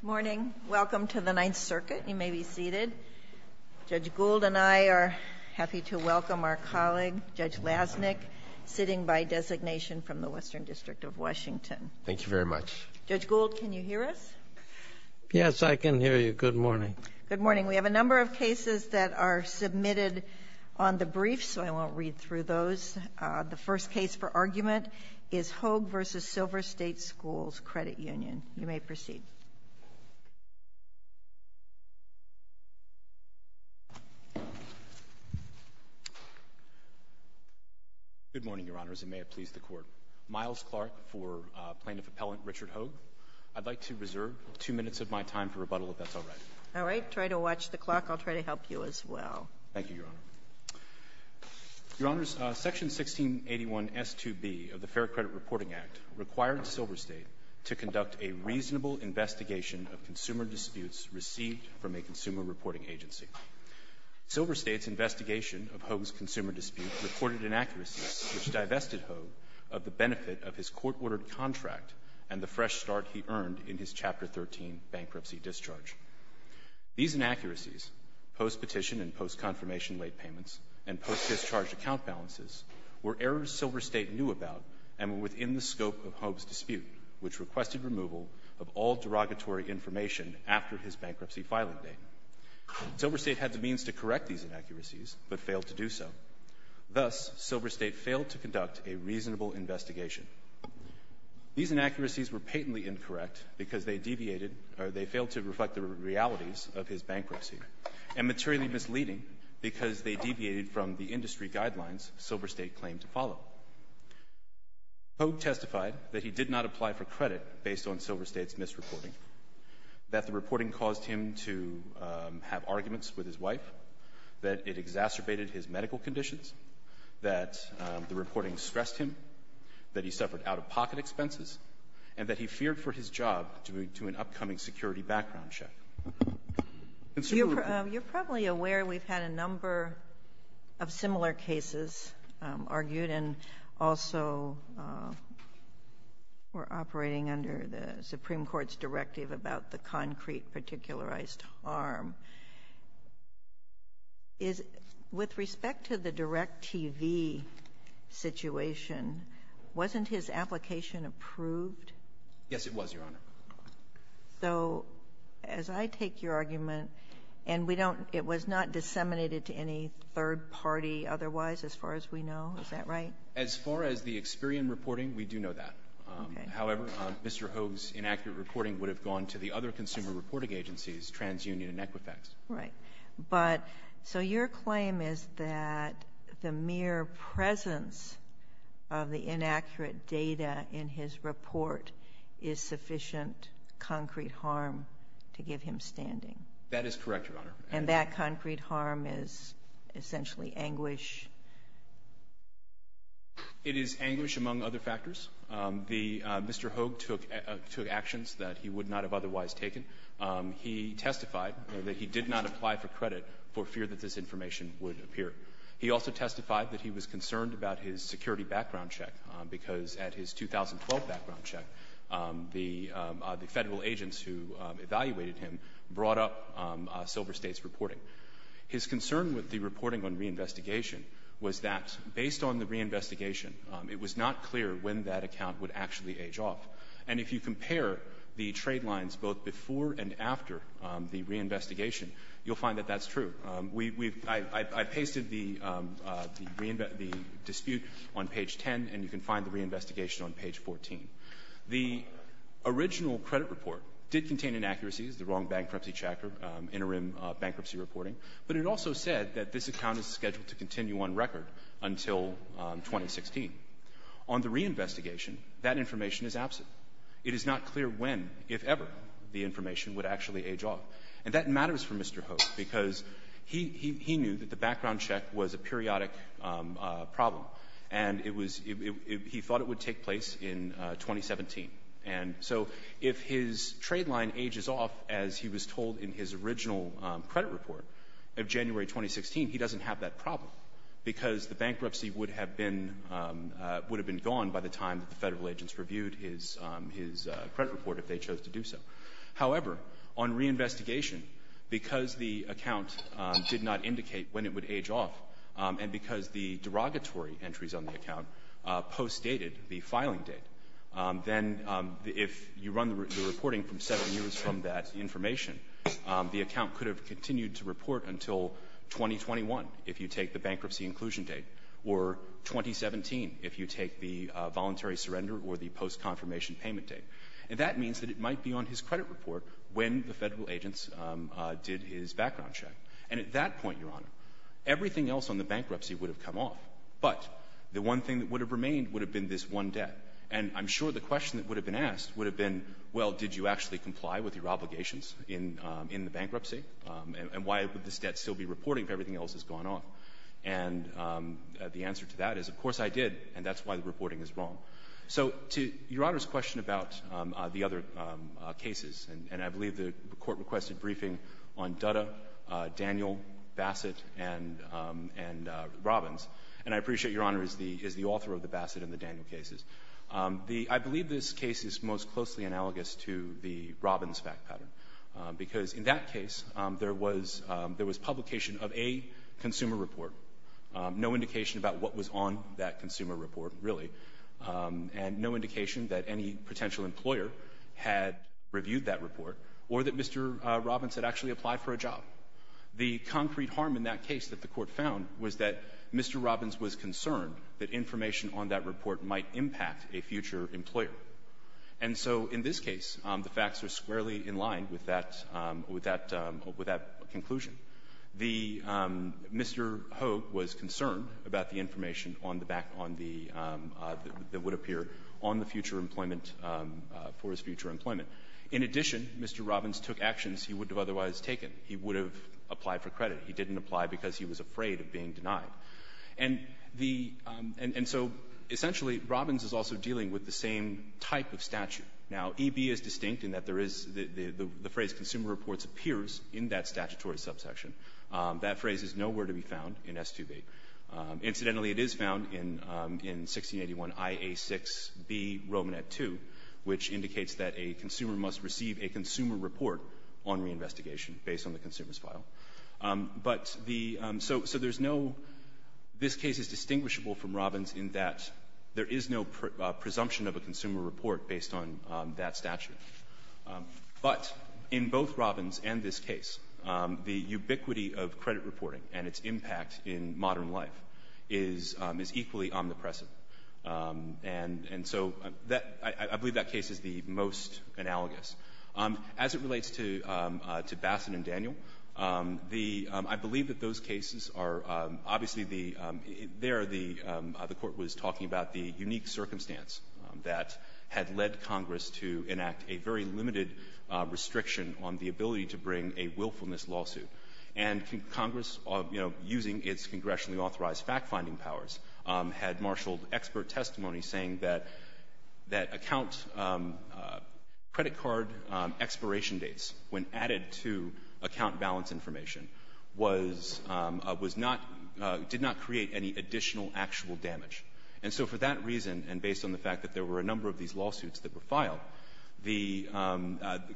Good morning. Welcome to the Ninth Circuit. You may be seated. Judge Gould and I are happy to welcome our colleague, Judge Lasnik, sitting by designation from the Western District of Washington. Thank you very much. Judge Gould, can you hear us? Yes, I can hear you. Good morning. Good morning. We have a number of cases that are submitted on the brief, so I won't read through those. The first case for argument is Hogue v. Silver State Schools Credit Union. You may proceed. Good morning, Your Honors, and may it please the Court. Miles Clark for Plaintiff Appellant Richard Hogue. I'd like to reserve two minutes of my time for rebuttal, if that's all right. All right. Try to watch the clock. I'll try to help you as well. Thank you, Your Honor. Your Honors, Section 1681S2B of the Fair Credit Reporting Act required Silver State to conduct a reasonable investigation of consumer disputes received from a consumer reporting agency. Silver State's investigation of Hogue's consumer dispute reported inaccuracies which divested Hogue of the benefit of his court-ordered contract and the fresh start he earned in his Chapter 13 bankruptcy discharge. These inaccuracies, post-petition and post-confirmation late payments, and post-discharge account balances were errors Silver State knew about and were within the scope of Hogue's dispute, which requested removal of all derogatory information after his bankruptcy filing date. Silver State had the means to correct these inaccuracies, but failed to do so. Thus, Silver State failed to conduct a reasonable investigation. These inaccuracies were patently incorrect because they deviated or they failed to reflect the realities of his bankruptcy, and materially misleading because they violated the guidelines Silver State claimed to follow. Hogue testified that he did not apply for credit based on Silver State's misreporting, that the reporting caused him to have arguments with his wife, that it exacerbated his medical conditions, that the reporting stressed him, that he suffered out-of-pocket expenses, and that he feared for his job due to an upcoming security background check. You're probably aware we've had a number of similar cases argued, and also we're operating under the Supreme Court's directive about the concrete particularized harm. With respect to the DirecTV situation, wasn't his application approved? Yes, it was, Your Honor. So as I take your argument, and we don't — it was not disseminated to any third party otherwise, as far as we know? Is that right? As far as the Experian reporting, we do know that. Okay. However, Mr. Hogue's inaccurate reporting would have gone to the other consumer reporting agencies, TransUnion and Equifax. Right. But so your claim is that the mere presence of the inaccurate data in his report is sufficient concrete harm to give him standing? That is correct, Your Honor. And that concrete harm is essentially anguish? It is anguish among other factors. The — Mr. Hogue took actions that he would not have otherwise taken. He testified that he did not apply for credit for fear that this information would appear. He also testified that he was concerned about his security background check, because at his 2012 background check, the Federal agents who evaluated him brought up Silver State's reporting. His concern with the reporting on reinvestigation was that, based on the reinvestigation, it was not clear when that account would actually age off. And if you compare the trade lines both before and after the reinvestigation, you'll find that that's true. I pasted the dispute on page 10, and you can find the reinvestigation on page 14. The original credit report did contain inaccuracies, the wrong bankruptcy chapter, interim bankruptcy reporting. But it also said that this account is scheduled to continue on record until 2016. On the reinvestigation, that information is absent. It is not clear when, if ever, the information would actually age off. And that matters for Mr. Hoek, because he knew that the background check was a periodic problem, and it was he thought it would take place in 2017. And so if his trade line ages off, as he was told in his original credit report of January 2016, he doesn't have that problem, because the bankruptcy would have been gone by the time that the Federal agents reviewed his credit report, if they chose to do so. However, on reinvestigation, because the account did not indicate when it would age off, and because the derogatory entries on the account postdated the filing date, then if you run the reporting from seven years from that information, the account could have continued to report until 2021, if you take the bankruptcy inclusion date, or 2017, if you take the voluntary surrender or the post-confirmation payment date. And that means that it might be on his credit report when the Federal agents did his background check. And at that point, Your Honor, everything else on the bankruptcy would have come off. But the one thing that would have remained would have been this one debt. And I'm sure the question that would have been asked would have been, well, did you actually comply with your obligations in the bankruptcy, and why would this debt still be reporting if everything else has gone off? And the answer to that is, of course I did, and that's why the reporting is wrong. So to Your Honor's question about the other cases, and I believe the Court requested briefing on Dutta, Daniel, Bassett, and Robbins, and I appreciate Your Honor is the author of the Bassett and the Daniel cases. I believe this case is most closely analogous to the Robbins fact pattern, because in that case there was publication of a consumer report, no indication about what that consumer report really, and no indication that any potential employer had reviewed that report or that Mr. Robbins had actually applied for a job. The concrete harm in that case that the Court found was that Mr. Robbins was concerned that information on that report might impact a future employer. And so in this case, the facts are squarely in line with that conclusion. The Mr. Ho was concerned about the information on the back on the that would appear on the future employment for his future employment. In addition, Mr. Robbins took actions he wouldn't have otherwise taken. He would have applied for credit. He didn't apply because he was afraid of being denied. And the and so essentially Robbins is also dealing with the same type of statute. Now, EB is distinct in that there is the phrase consumer reports appears in that statutory subsection. That phrase is nowhere to be found in S2B. Incidentally, it is found in 1681IA6B Romanet 2, which indicates that a consumer must receive a consumer report on reinvestigation based on the consumer's file. But the so there's no this case is distinguishable from Robbins in that there is no presumption of a consumer report based on that statute. But in both Robbins and this case, the ubiquity of credit reporting and its impact in modern life is is equally omnipresent. And and so that I believe that case is the most analogous. As it relates to to Bassett and Daniel, the I believe that those cases are obviously the there the the Court was talking about the unique circumstance that had led Congress to enact a very limited restriction on the ability to bring a willfulness lawsuit. And Congress, you know, using its congressionally authorized fact-finding powers, had marshaled expert testimony saying that that account credit card expiration dates when added to account balance information was was not did not create any additional actual damage. And so for that reason, and based on the fact that there were a number of these lawsuits that were filed, the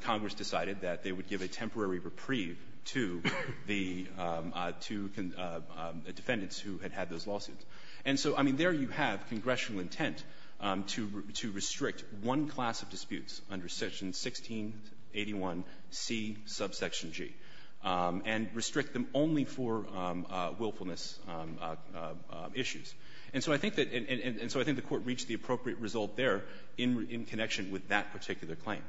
Congress decided that they would give a temporary reprieve to the to defendants who had had those lawsuits. And so, I mean, there you have congressional intent to to restrict one class of disputes under Section 1681C, subsection G, and restrict them only for willfulness issues. And so I think that, and so I think the Court reached the appropriate result there in in connection with that particular claim.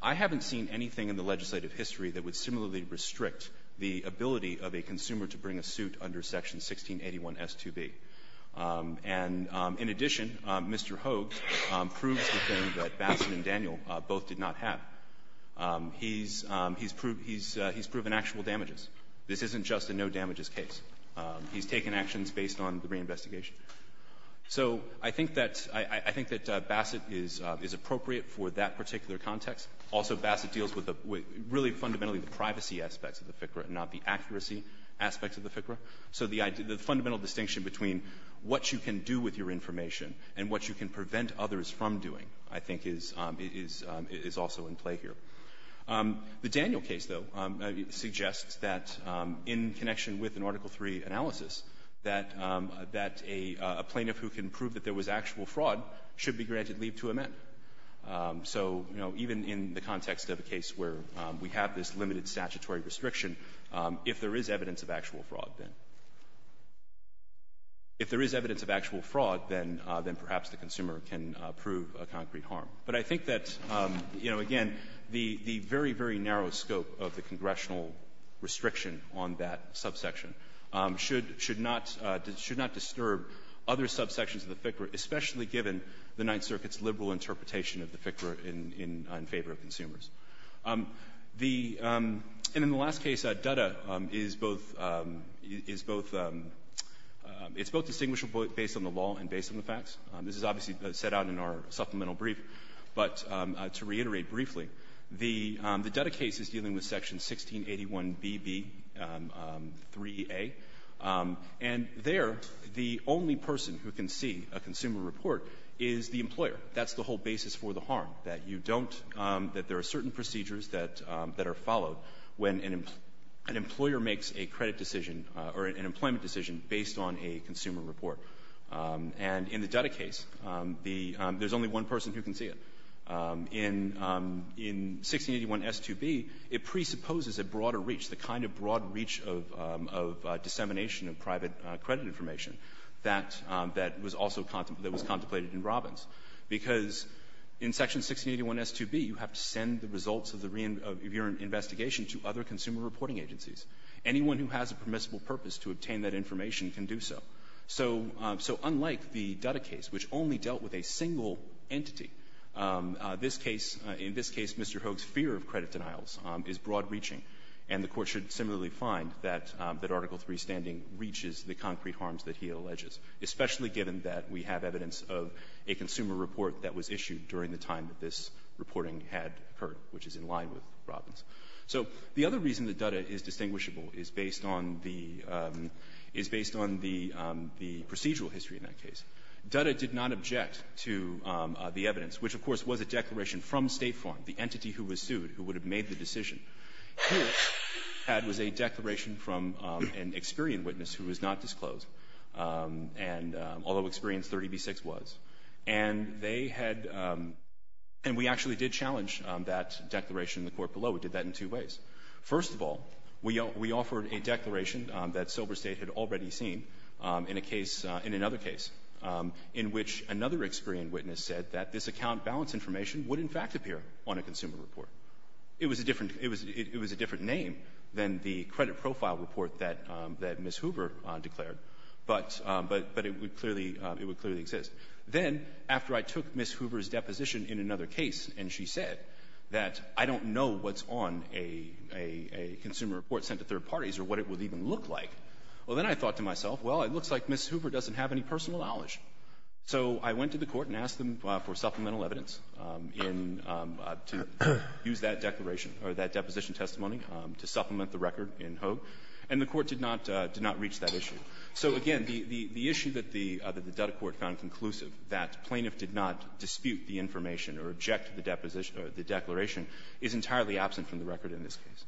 I haven't seen anything in the legislative history that would similarly restrict the ability of a consumer to bring a suit under Section 1681S2B. And in addition, Mr. Hoogs proves the thing that Bassett and Daniel both did not have. He's he's proven he's he's proven actual damages. This isn't just a no-damages case. He's taken actions based on the reinvestigation. So I think that I I think that Bassett is is appropriate for that particular context. Also, Bassett deals with the really fundamentally the privacy aspects of the FCRA and not the accuracy aspects of the FCRA. So the fundamental distinction between what you can do with your information and what you can prevent others from doing, I think, is is is also in play here. The Daniel case, though, suggests that in connection with an Article III analysis, that that a plaintiff who can prove that there was actual fraud should be granted leave to amend. So, you know, even in the context of a case where we have this limited statutory restriction, if there is evidence of actual fraud, then if there is evidence of actual fraud, then then perhaps the consumer can prove a concrete harm. But I think that, you know, again, the the very, very narrow scope of the congressional restriction on that subsection should should not should not disturb other subsections of the FCRA, especially given the Ninth Circuit's liberal interpretation of the FCRA in in in favor of consumers. The and in the last case, Dutta is both is both it's both distinguishable based on the law and based on the facts. This is obviously set out in our supplemental brief. But to reiterate briefly, the the Dutta case is dealing with Section 1681BB3A. And there the only person who can see a consumer report is the employer. That's the whole basis for the harm, that you don't that there are certain procedures that that are followed when an employer makes a credit decision or an employment decision based on a consumer report. And in the Dutta case, the there's only one person who can see it. In in 1681S2B, it presupposes a broader reach, the kind of broad reach of of dissemination of private credit information that that was also contemplated that was contemplated in Robbins. Because in Section 1681S2B, you have to send the results of the of your investigation to other consumer reporting agencies. Anyone who has a permissible purpose to obtain that information can do so. So so unlike the Dutta case, which only dealt with a single entity, this case, in this case, Mr. Hogue's fear of credit denials is broad-reaching, and the Court should similarly find that that Article III standing reaches the concrete harms that he alleges, especially given that we have evidence of a consumer report that was issued during the time that this reporting had occurred, which is in line with Robbins. So the other reason that Dutta is distinguishable is based on the is based on the procedural history in that case. Dutta did not object to the evidence, which, of course, was a declaration from State Farm, the entity who was sued, who would have made the decision. What the Court had was a declaration from an Experian witness who was not disclosed, and although Experian's 30b-6 was. And they had and we actually did challenge that declaration in the Court below. It did that in two ways. First of all, we offered a declaration that Silver State had already seen in a case in another case in which another Experian witness said that this account balance information would in fact disappear on a consumer report. It was a different name than the credit profile report that Ms. Hoover declared, but it would clearly exist. Then, after I took Ms. Hoover's deposition in another case, and she said that I don't know what's on a consumer report sent to third parties or what it would even look like, well, then I thought to myself, well, it looks like Ms. Hoover doesn't have any personal knowledge. So I went to the Court and asked them for supplemental evidence in to use that declaration or that deposition testimony to supplement the record in Hoag, and the Court did not reach that issue. So, again, the issue that the Dutta Court found conclusive, that plaintiff did not dispute the information or object to the deposition or the declaration, is entirely absent from the record in this case.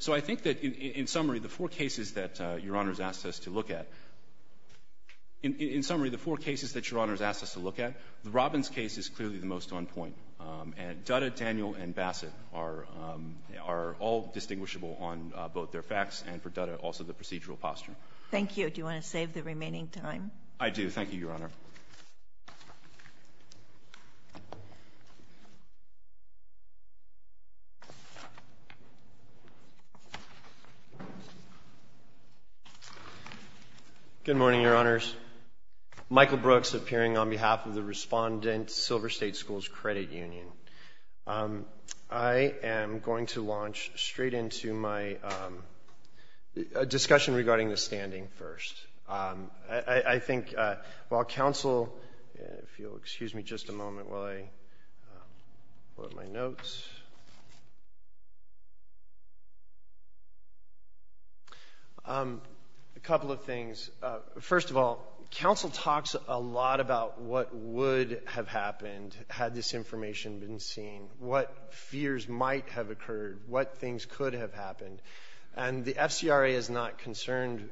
So I think that, in summary, the four cases that Your Honor has asked us to look at, the Robbins case is clearly the most on point. And Dutta, Daniel, and Bassett are all distinguishable on both their facts, and for Dutta, also the procedural posture. Thank you. Do you want to save the remaining time? I do. Thank you, Your Honor. Good morning, Your Honors. Michael Brooks, appearing on behalf of the Respondent Silver State Schools Credit Union. I am going to launch straight into my discussion regarding the standing first. I think while counsel, if you'll excuse me just a moment while I load my notes, a couple of things. First of all, counsel talks a lot about what would have happened had this information been seen, what fears might have occurred, what things could have happened. And the FCRA is not concerned,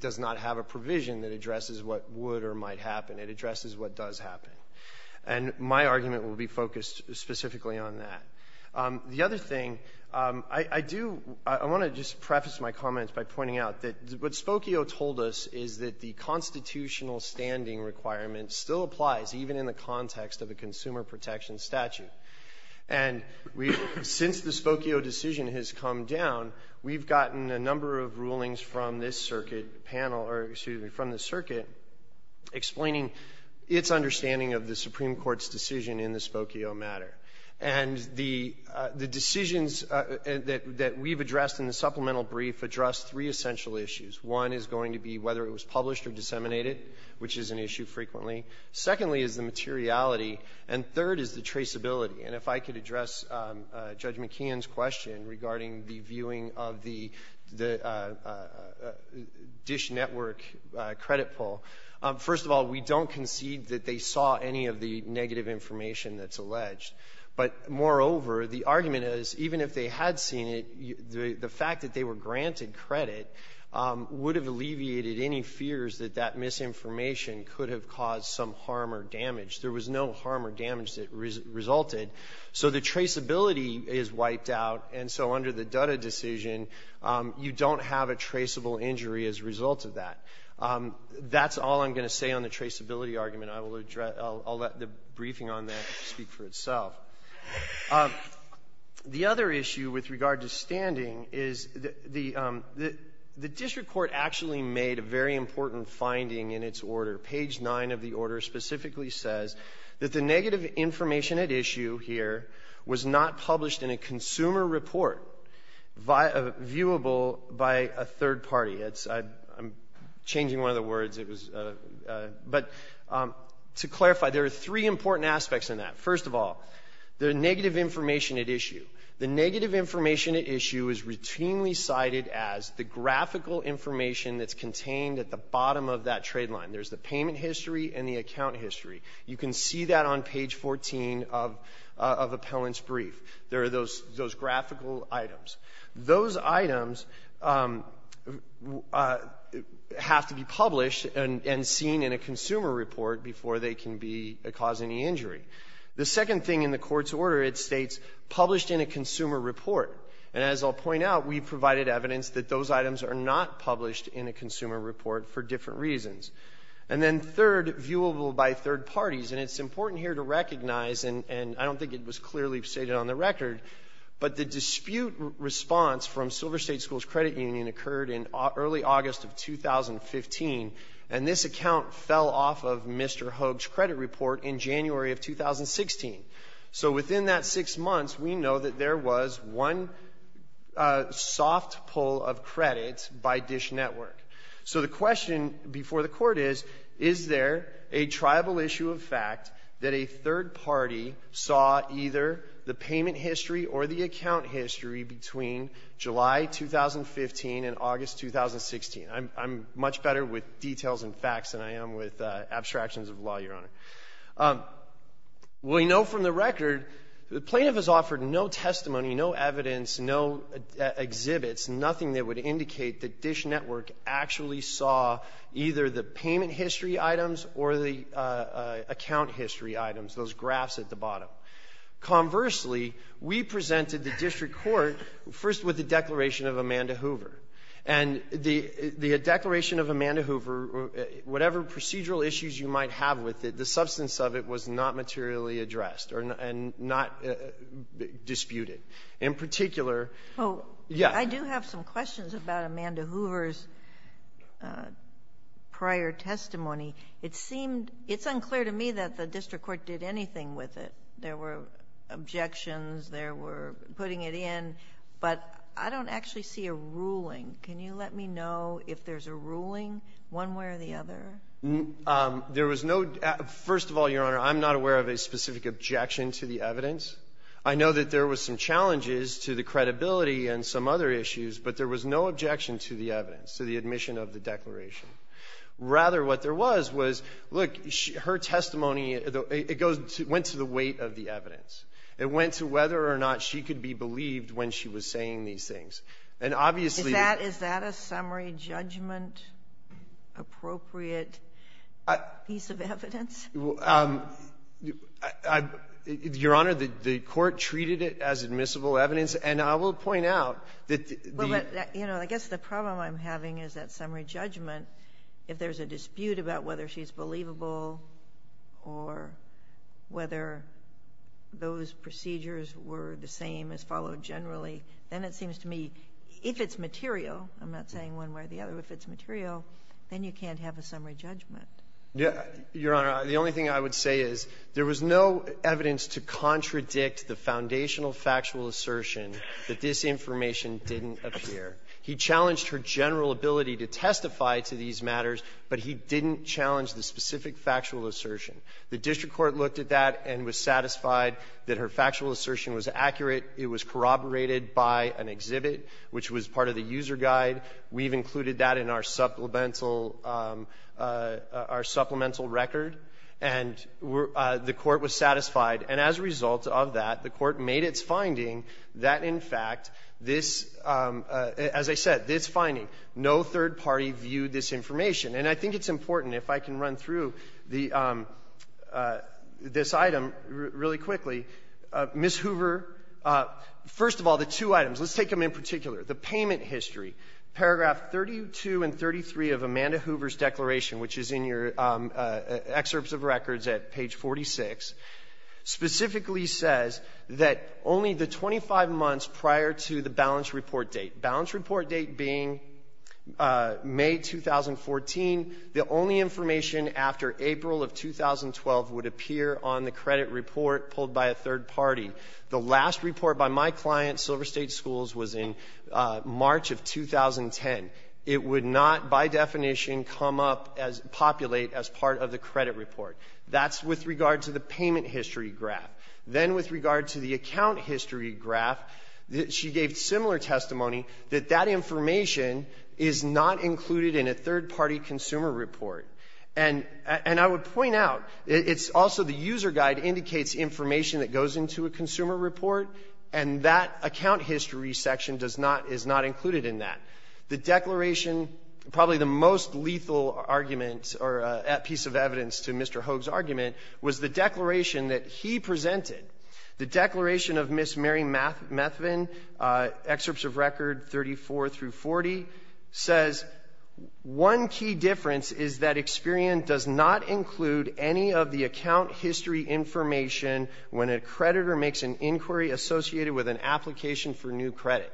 does not have a provision that addresses what would or might happen. It addresses what does happen. And my argument will be focused specifically on that. The other thing, I do, I want to just preface my comments by pointing out that what Spokio told us is that the constitutional standing requirement still applies, even in the context of a consumer protection statute. And we, since the Spokio decision has come down, we've gotten a number of rulings from this circuit panel or, excuse me, from the circuit explaining its understanding of the Supreme Court's decision in the Spokio matter. And the decisions that we've addressed in the supplemental brief address three essential issues. One is going to be whether it was published or disseminated, which is an issue frequently. Secondly is the materiality. And third is the traceability. And if I could address Judge McKeon's question regarding the viewing of the DISH network credit poll, first of all, we don't concede that they saw any of the negative information that's alleged. But moreover, the argument is, even if they had seen it, the fact that they were granted credit would have alleviated any fears that that misinformation could have caused some harm or damage. There was no harm or damage that resulted. So the traceability is wiped out, and so under the Dutta decision, you don't have a traceable injury as a result of that. That's all I'm going to say on the traceability argument. I will address the briefing on that to speak for itself. The other issue with regard to standing is the district court actually made a very important finding in its order. Page 9 of the order specifically says that the negative information at issue here was not published in a consumer report viewable by a third party. I'm changing one of the words. But to clarify, there are three important aspects in that. First of all, the negative information at issue. The negative information at issue is routinely cited as the graphical information that's contained at the bottom of that 14 of Appellant's brief. There are those graphical items. Those items have to be published and seen in a consumer report before they can be causing any injury. The second thing in the Court's order, it states, published in a consumer report. And as I'll point out, we provided evidence that those items are not published in a consumer report for different reasons. And then third, viewable by third parties. And it's important here to recognize, and I don't think it was clearly stated on the record, but the dispute response from Silver State Schools Credit Union occurred in early August of 2015, and this account fell off of Mr. Hogue's credit report in January of 2016. So within that six months, we know that there was one soft pull of credit network. So the question before the Court is, is there a tribal issue of fact that a third party saw either the payment history or the account history between July 2015 and August 2016? I'm much better with details and facts than I am with abstractions of law, Your Honor. We know from the record the plaintiff has offered no testimony, no evidence, no exhibits, nothing that would indicate that Dish Network actually saw either the payment history items or the account history items, those graphs at the bottom. Conversely, we presented the district court first with the declaration of Amanda Hoover. And the declaration of Amanda Hoover, whatever procedural issues you might have with it, the substance of it was not materially addressed or not disputed. In particular, yes. I do have some questions about Amanda Hoover's prior testimony. It seemed — it's unclear to me that the district court did anything with it. There were objections. There were putting it in. But I don't actually see a ruling. Can you let me know if there's a ruling one way or the other? There was no — first of all, Your Honor, I'm not aware of a specific objection to the evidence. I know that there was some challenges to the credibility and some other issues, but there was no objection to the evidence, to the admission of the declaration. Rather, what there was, was, look, her testimony, it goes to — went to the weight of the evidence. It went to whether or not she could be believed when she was saying these things. And obviously — Is that a summary judgment-appropriate piece of evidence? Your Honor, the court treated it as admissible evidence. And I will point out that the — Well, but, you know, I guess the problem I'm having is that summary judgment, if there's a dispute about whether she's believable or whether those procedures were the same as followed generally, then it seems to me, if it's material — I'm not saying one way or the other — if it's material, then you can't have a summary judgment. Your Honor, the only thing I would say is there was no evidence to contradict the foundational factual assertion that this information didn't appear. He challenged her general ability to testify to these matters, but he didn't challenge the specific factual assertion. The district court looked at that and was satisfied that her factual assertion was accurate. It was corroborated by an exhibit, which was part of the user guide. We've included that in our supplemental — our supplemental record. And the court was satisfied. And as a result of that, the court made its finding that, in fact, this — as I said, this finding, no third party viewed this information. And I think it's important, if I can run through the — this item really quickly. Ms. Hoover, first of all, the two items, let's take them in particular. The payment history, paragraph 32 and 33 of Amanda Hoover's declaration, which is in your excerpts of records at page 46, specifically says that only the 25 months prior to the balance report date, balance report date being May 2014, is when the only information after April of 2012 would appear on the credit report pulled by a third party. The last report by my client, Silver State Schools, was in March of 2010. It would not, by definition, come up as — populate as part of the credit report. That's with regard to the payment history graph. Then with regard to the account history graph, she gave similar testimony that that And — and I would point out, it's also the user guide indicates information that goes into a consumer report, and that account history section does not — is not included in that. The declaration, probably the most lethal argument or piece of evidence to Mr. Hogue's argument, was the declaration that he presented. The declaration of Ms. Mary Methvin, excerpts of record 34 through 40, says one key difference is that Experian does not include any of the account history information when a creditor makes an inquiry associated with an application for new credit.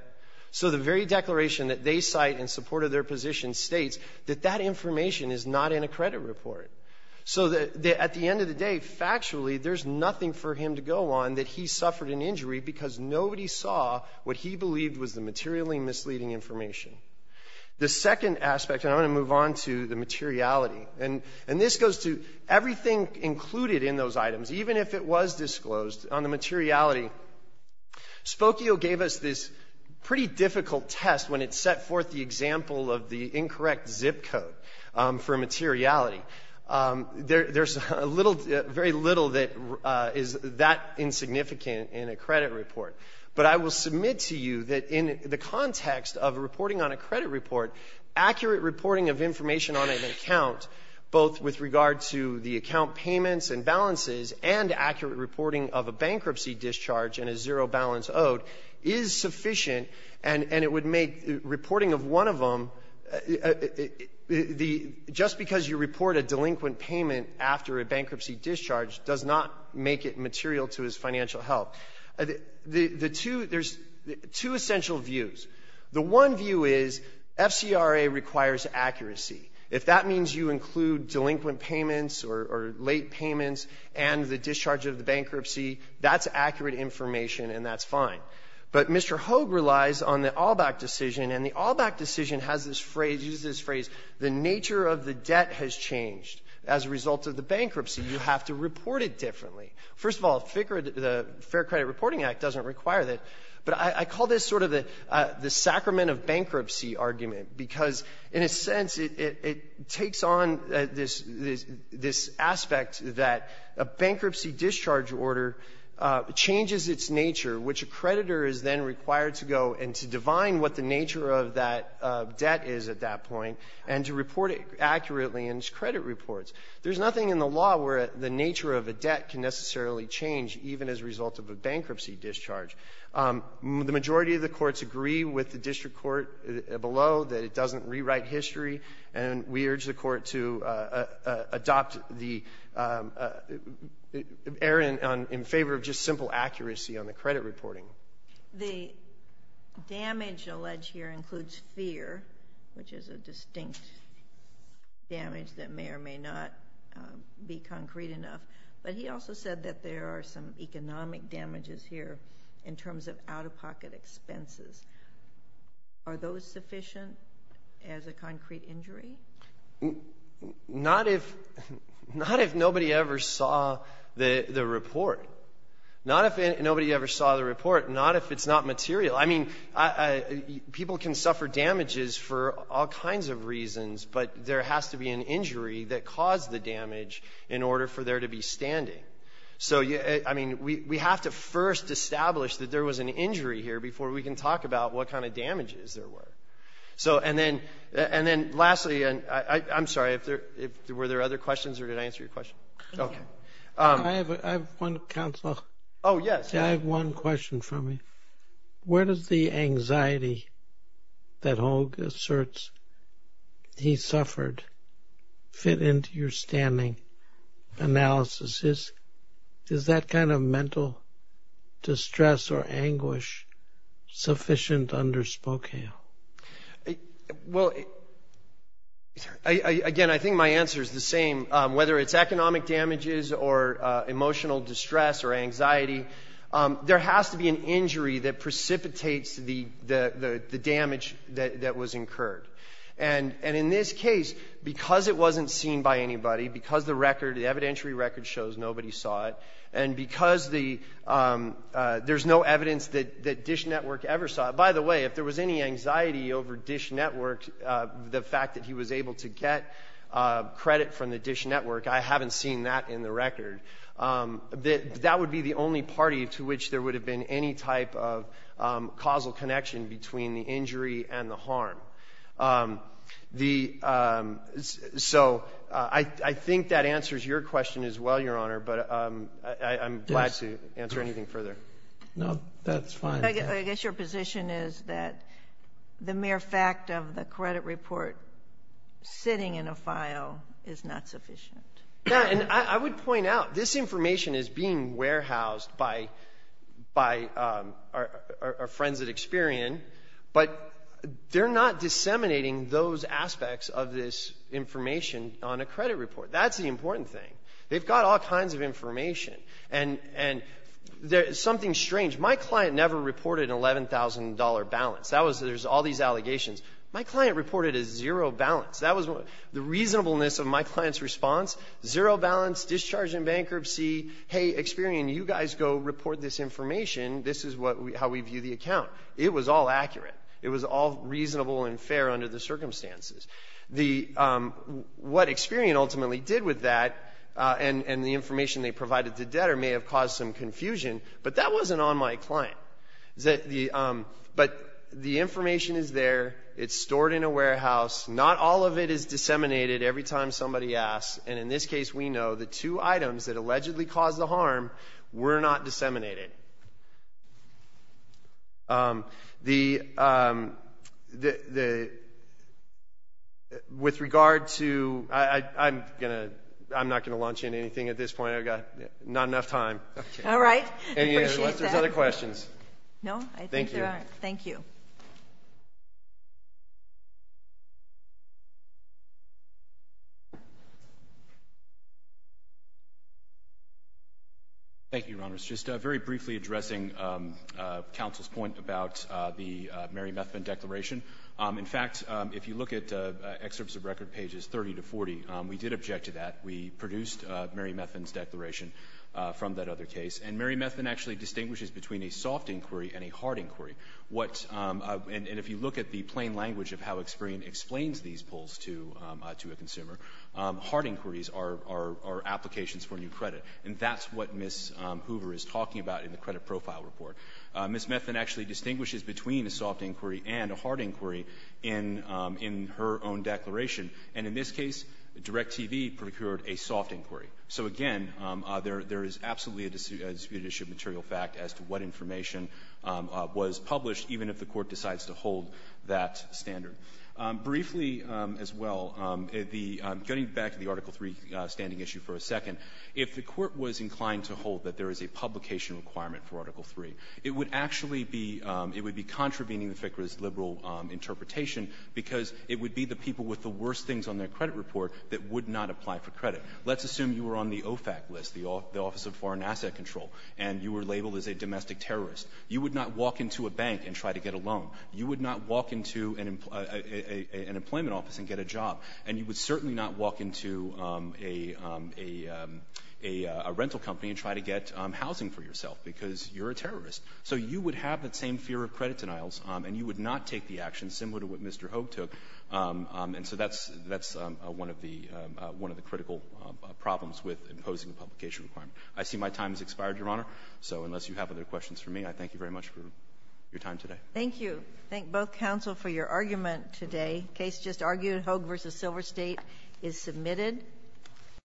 So the very declaration that they cite in support of their position states that that information is not in a credit report. So at the end of the day, factually, there's nothing for him to go on that he suffered an injury because nobody saw what he believed was the materially misleading information. The second aspect, and I'm going to move on to the materiality, and — and this goes to everything included in those items, even if it was disclosed, on the materiality. Spokio gave us this pretty difficult test when it set forth the example of the incorrect zip code for materiality. There — there's a little — very little that is that insignificant in a credit report. But I will submit to you that in the context of reporting on a credit report, accurate reporting of information on an account, both with regard to the account payments and balances and accurate reporting of a bankruptcy discharge and a zero-balance owed, is sufficient. And — and it would make reporting of one of them — the — just because you report a delinquent payment after a bankruptcy discharge does not make it material to his financial health. The — the two — there's two essential views. The one view is FCRA requires accuracy. If that means you include delinquent payments or — or late payments and the discharge of the bankruptcy, that's accurate information, and that's fine. But Mr. Hogue relies on the Allback decision, and the Allback decision has this phrase — uses this phrase, the nature of the debt has changed as a result of the bankruptcy. You have to report it differently. First of all, FCRA, the Fair Credit Reporting Act, doesn't require that. But I — I call this sort of the sacrament of bankruptcy argument because, in a sense, it — it takes on this — this aspect that a bankruptcy discharge order changes its nature, which a creditor is then required to go and to divine what the nature of that debt is at that point and to report it accurately in its credit reports. There's nothing in the law where the nature of a debt can necessarily change, even as a result of a bankruptcy discharge. The majority of the courts agree with the district court below that it doesn't rewrite history, and we urge the court to adopt the — err in — in favor of just simple accuracy on the credit reporting. The damage alleged here includes fear, which is a distinct damage that may or may not be concrete enough, but he also said that there are some economic damages here in terms of out-of-pocket expenses. Are those sufficient as a concrete injury? Not if — not if nobody ever saw the — the report. Not if — nobody ever saw the report. Not if it's not material. I mean, I — people can suffer damages for all kinds of reasons, but there has to be an injury that caused the damage in order for there to be standing. So you — I mean, we have to first establish that there was an injury here before we can talk about what kind of damages there were. So and then — and then lastly, and I — I'm sorry, if there — were there other questions or did I answer your question? Okay. I have one, counsel. Oh, yes. I have one question for me. Where does the anxiety that Hogue asserts he suffered fit into your standing analysis? Is that kind of mental distress or anguish sufficient under Spokane? Well, again, I think my answer is the same. Whether it's economic damages or emotional distress or anxiety, there has to be an injury that precipitates the — the damage that was incurred. And in this case, because it wasn't seen by anybody, because the record — the evidentiary record shows nobody saw it, and because the — there's no evidence that Dish Network ever saw — by the way, if there was any anxiety over Dish Network, the fact that he was able to get credit from the Dish Network, I haven't seen that in the record. That would be the only party to which there would have been any type of causal connection between the injury and the harm. The — so I think that answers your question as well, Your Honor, but I'm glad to answer anything further. No, that's fine. I guess your position is that the mere fact of the credit report sitting in a file is not sufficient. Yeah. And I would point out, this information is being warehoused by our friends at Experian, but they're not disseminating those aspects of this information on a credit report. That's the important thing. They've got all kinds of information. And there's something strange. My client never reported an $11,000 balance. That was — there's all these allegations. My client reported a zero balance. That was what — the reasonableness of my client's response, zero balance, discharge in bankruptcy, hey, Experian, you guys go report this information. This is what — how we view the account. It was all accurate. It was all reasonable and fair under the circumstances. The — what Experian ultimately did with that and the information they provided to debtor may have caused some confusion, but that wasn't on my client. But the information is there. It's stored in a warehouse. Not all of it is disseminated every time somebody asks, and in this case, we know the two items that allegedly caused the harm were not disseminated. The — with regard to — I'm going to — I'm not going to launch into anything at this point. I've got not enough time. Okay. All right. Appreciate that. Any other questions? No, I think there are. Thank you. Thank you, Your Honors. Just a very brief follow-up. I'm briefly addressing counsel's point about the Merrimethvin declaration. In fact, if you look at Excerpts of Record pages 30 to 40, we did object to that. We produced Merrimethvin's declaration from that other case. And Merrimethvin actually distinguishes between a soft inquiry and a hard inquiry. What — and if you look at the plain language of how Experian explains these polls to a consumer, hard inquiries are applications for new credit, and that's what Ms. Hoover is talking about in the Credit Profile Report. Merrimethvin actually distinguishes between a soft inquiry and a hard inquiry in her own declaration. And in this case, DirecTV procured a soft inquiry. So, again, there is absolutely a disputed issue of material fact as to what information was published, even if the Court decides to hold that standard. Briefly, as well, the — getting back to the Article III standing issue for a second, if the Court was inclined to hold that there is a publication requirement for Article III, it would actually be — it would be contravening the FICRA's liberal interpretation because it would be the people with the worst things on their credit report that would not apply for credit. Let's assume you were on the OFAC list, the Office of Foreign Asset Control, and you were labeled as a domestic terrorist. You would not walk into a bank and try to get a loan. You would not walk into an employment office and get a job. And you would certainly not walk into a — a rental company and try to get housing for yourself because you're a terrorist. So you would have that same fear of credit denials, and you would not take the action similar to what Mr. Hogue took. And so that's — that's one of the — one of the critical problems with imposing a publication requirement. I see my time has expired, Your Honor, so unless you have other questions for me, I thank you very much for your time today. Thank you. Thank both counsel for your argument today. Case just argued, Hogue v. Silver State, is submitted.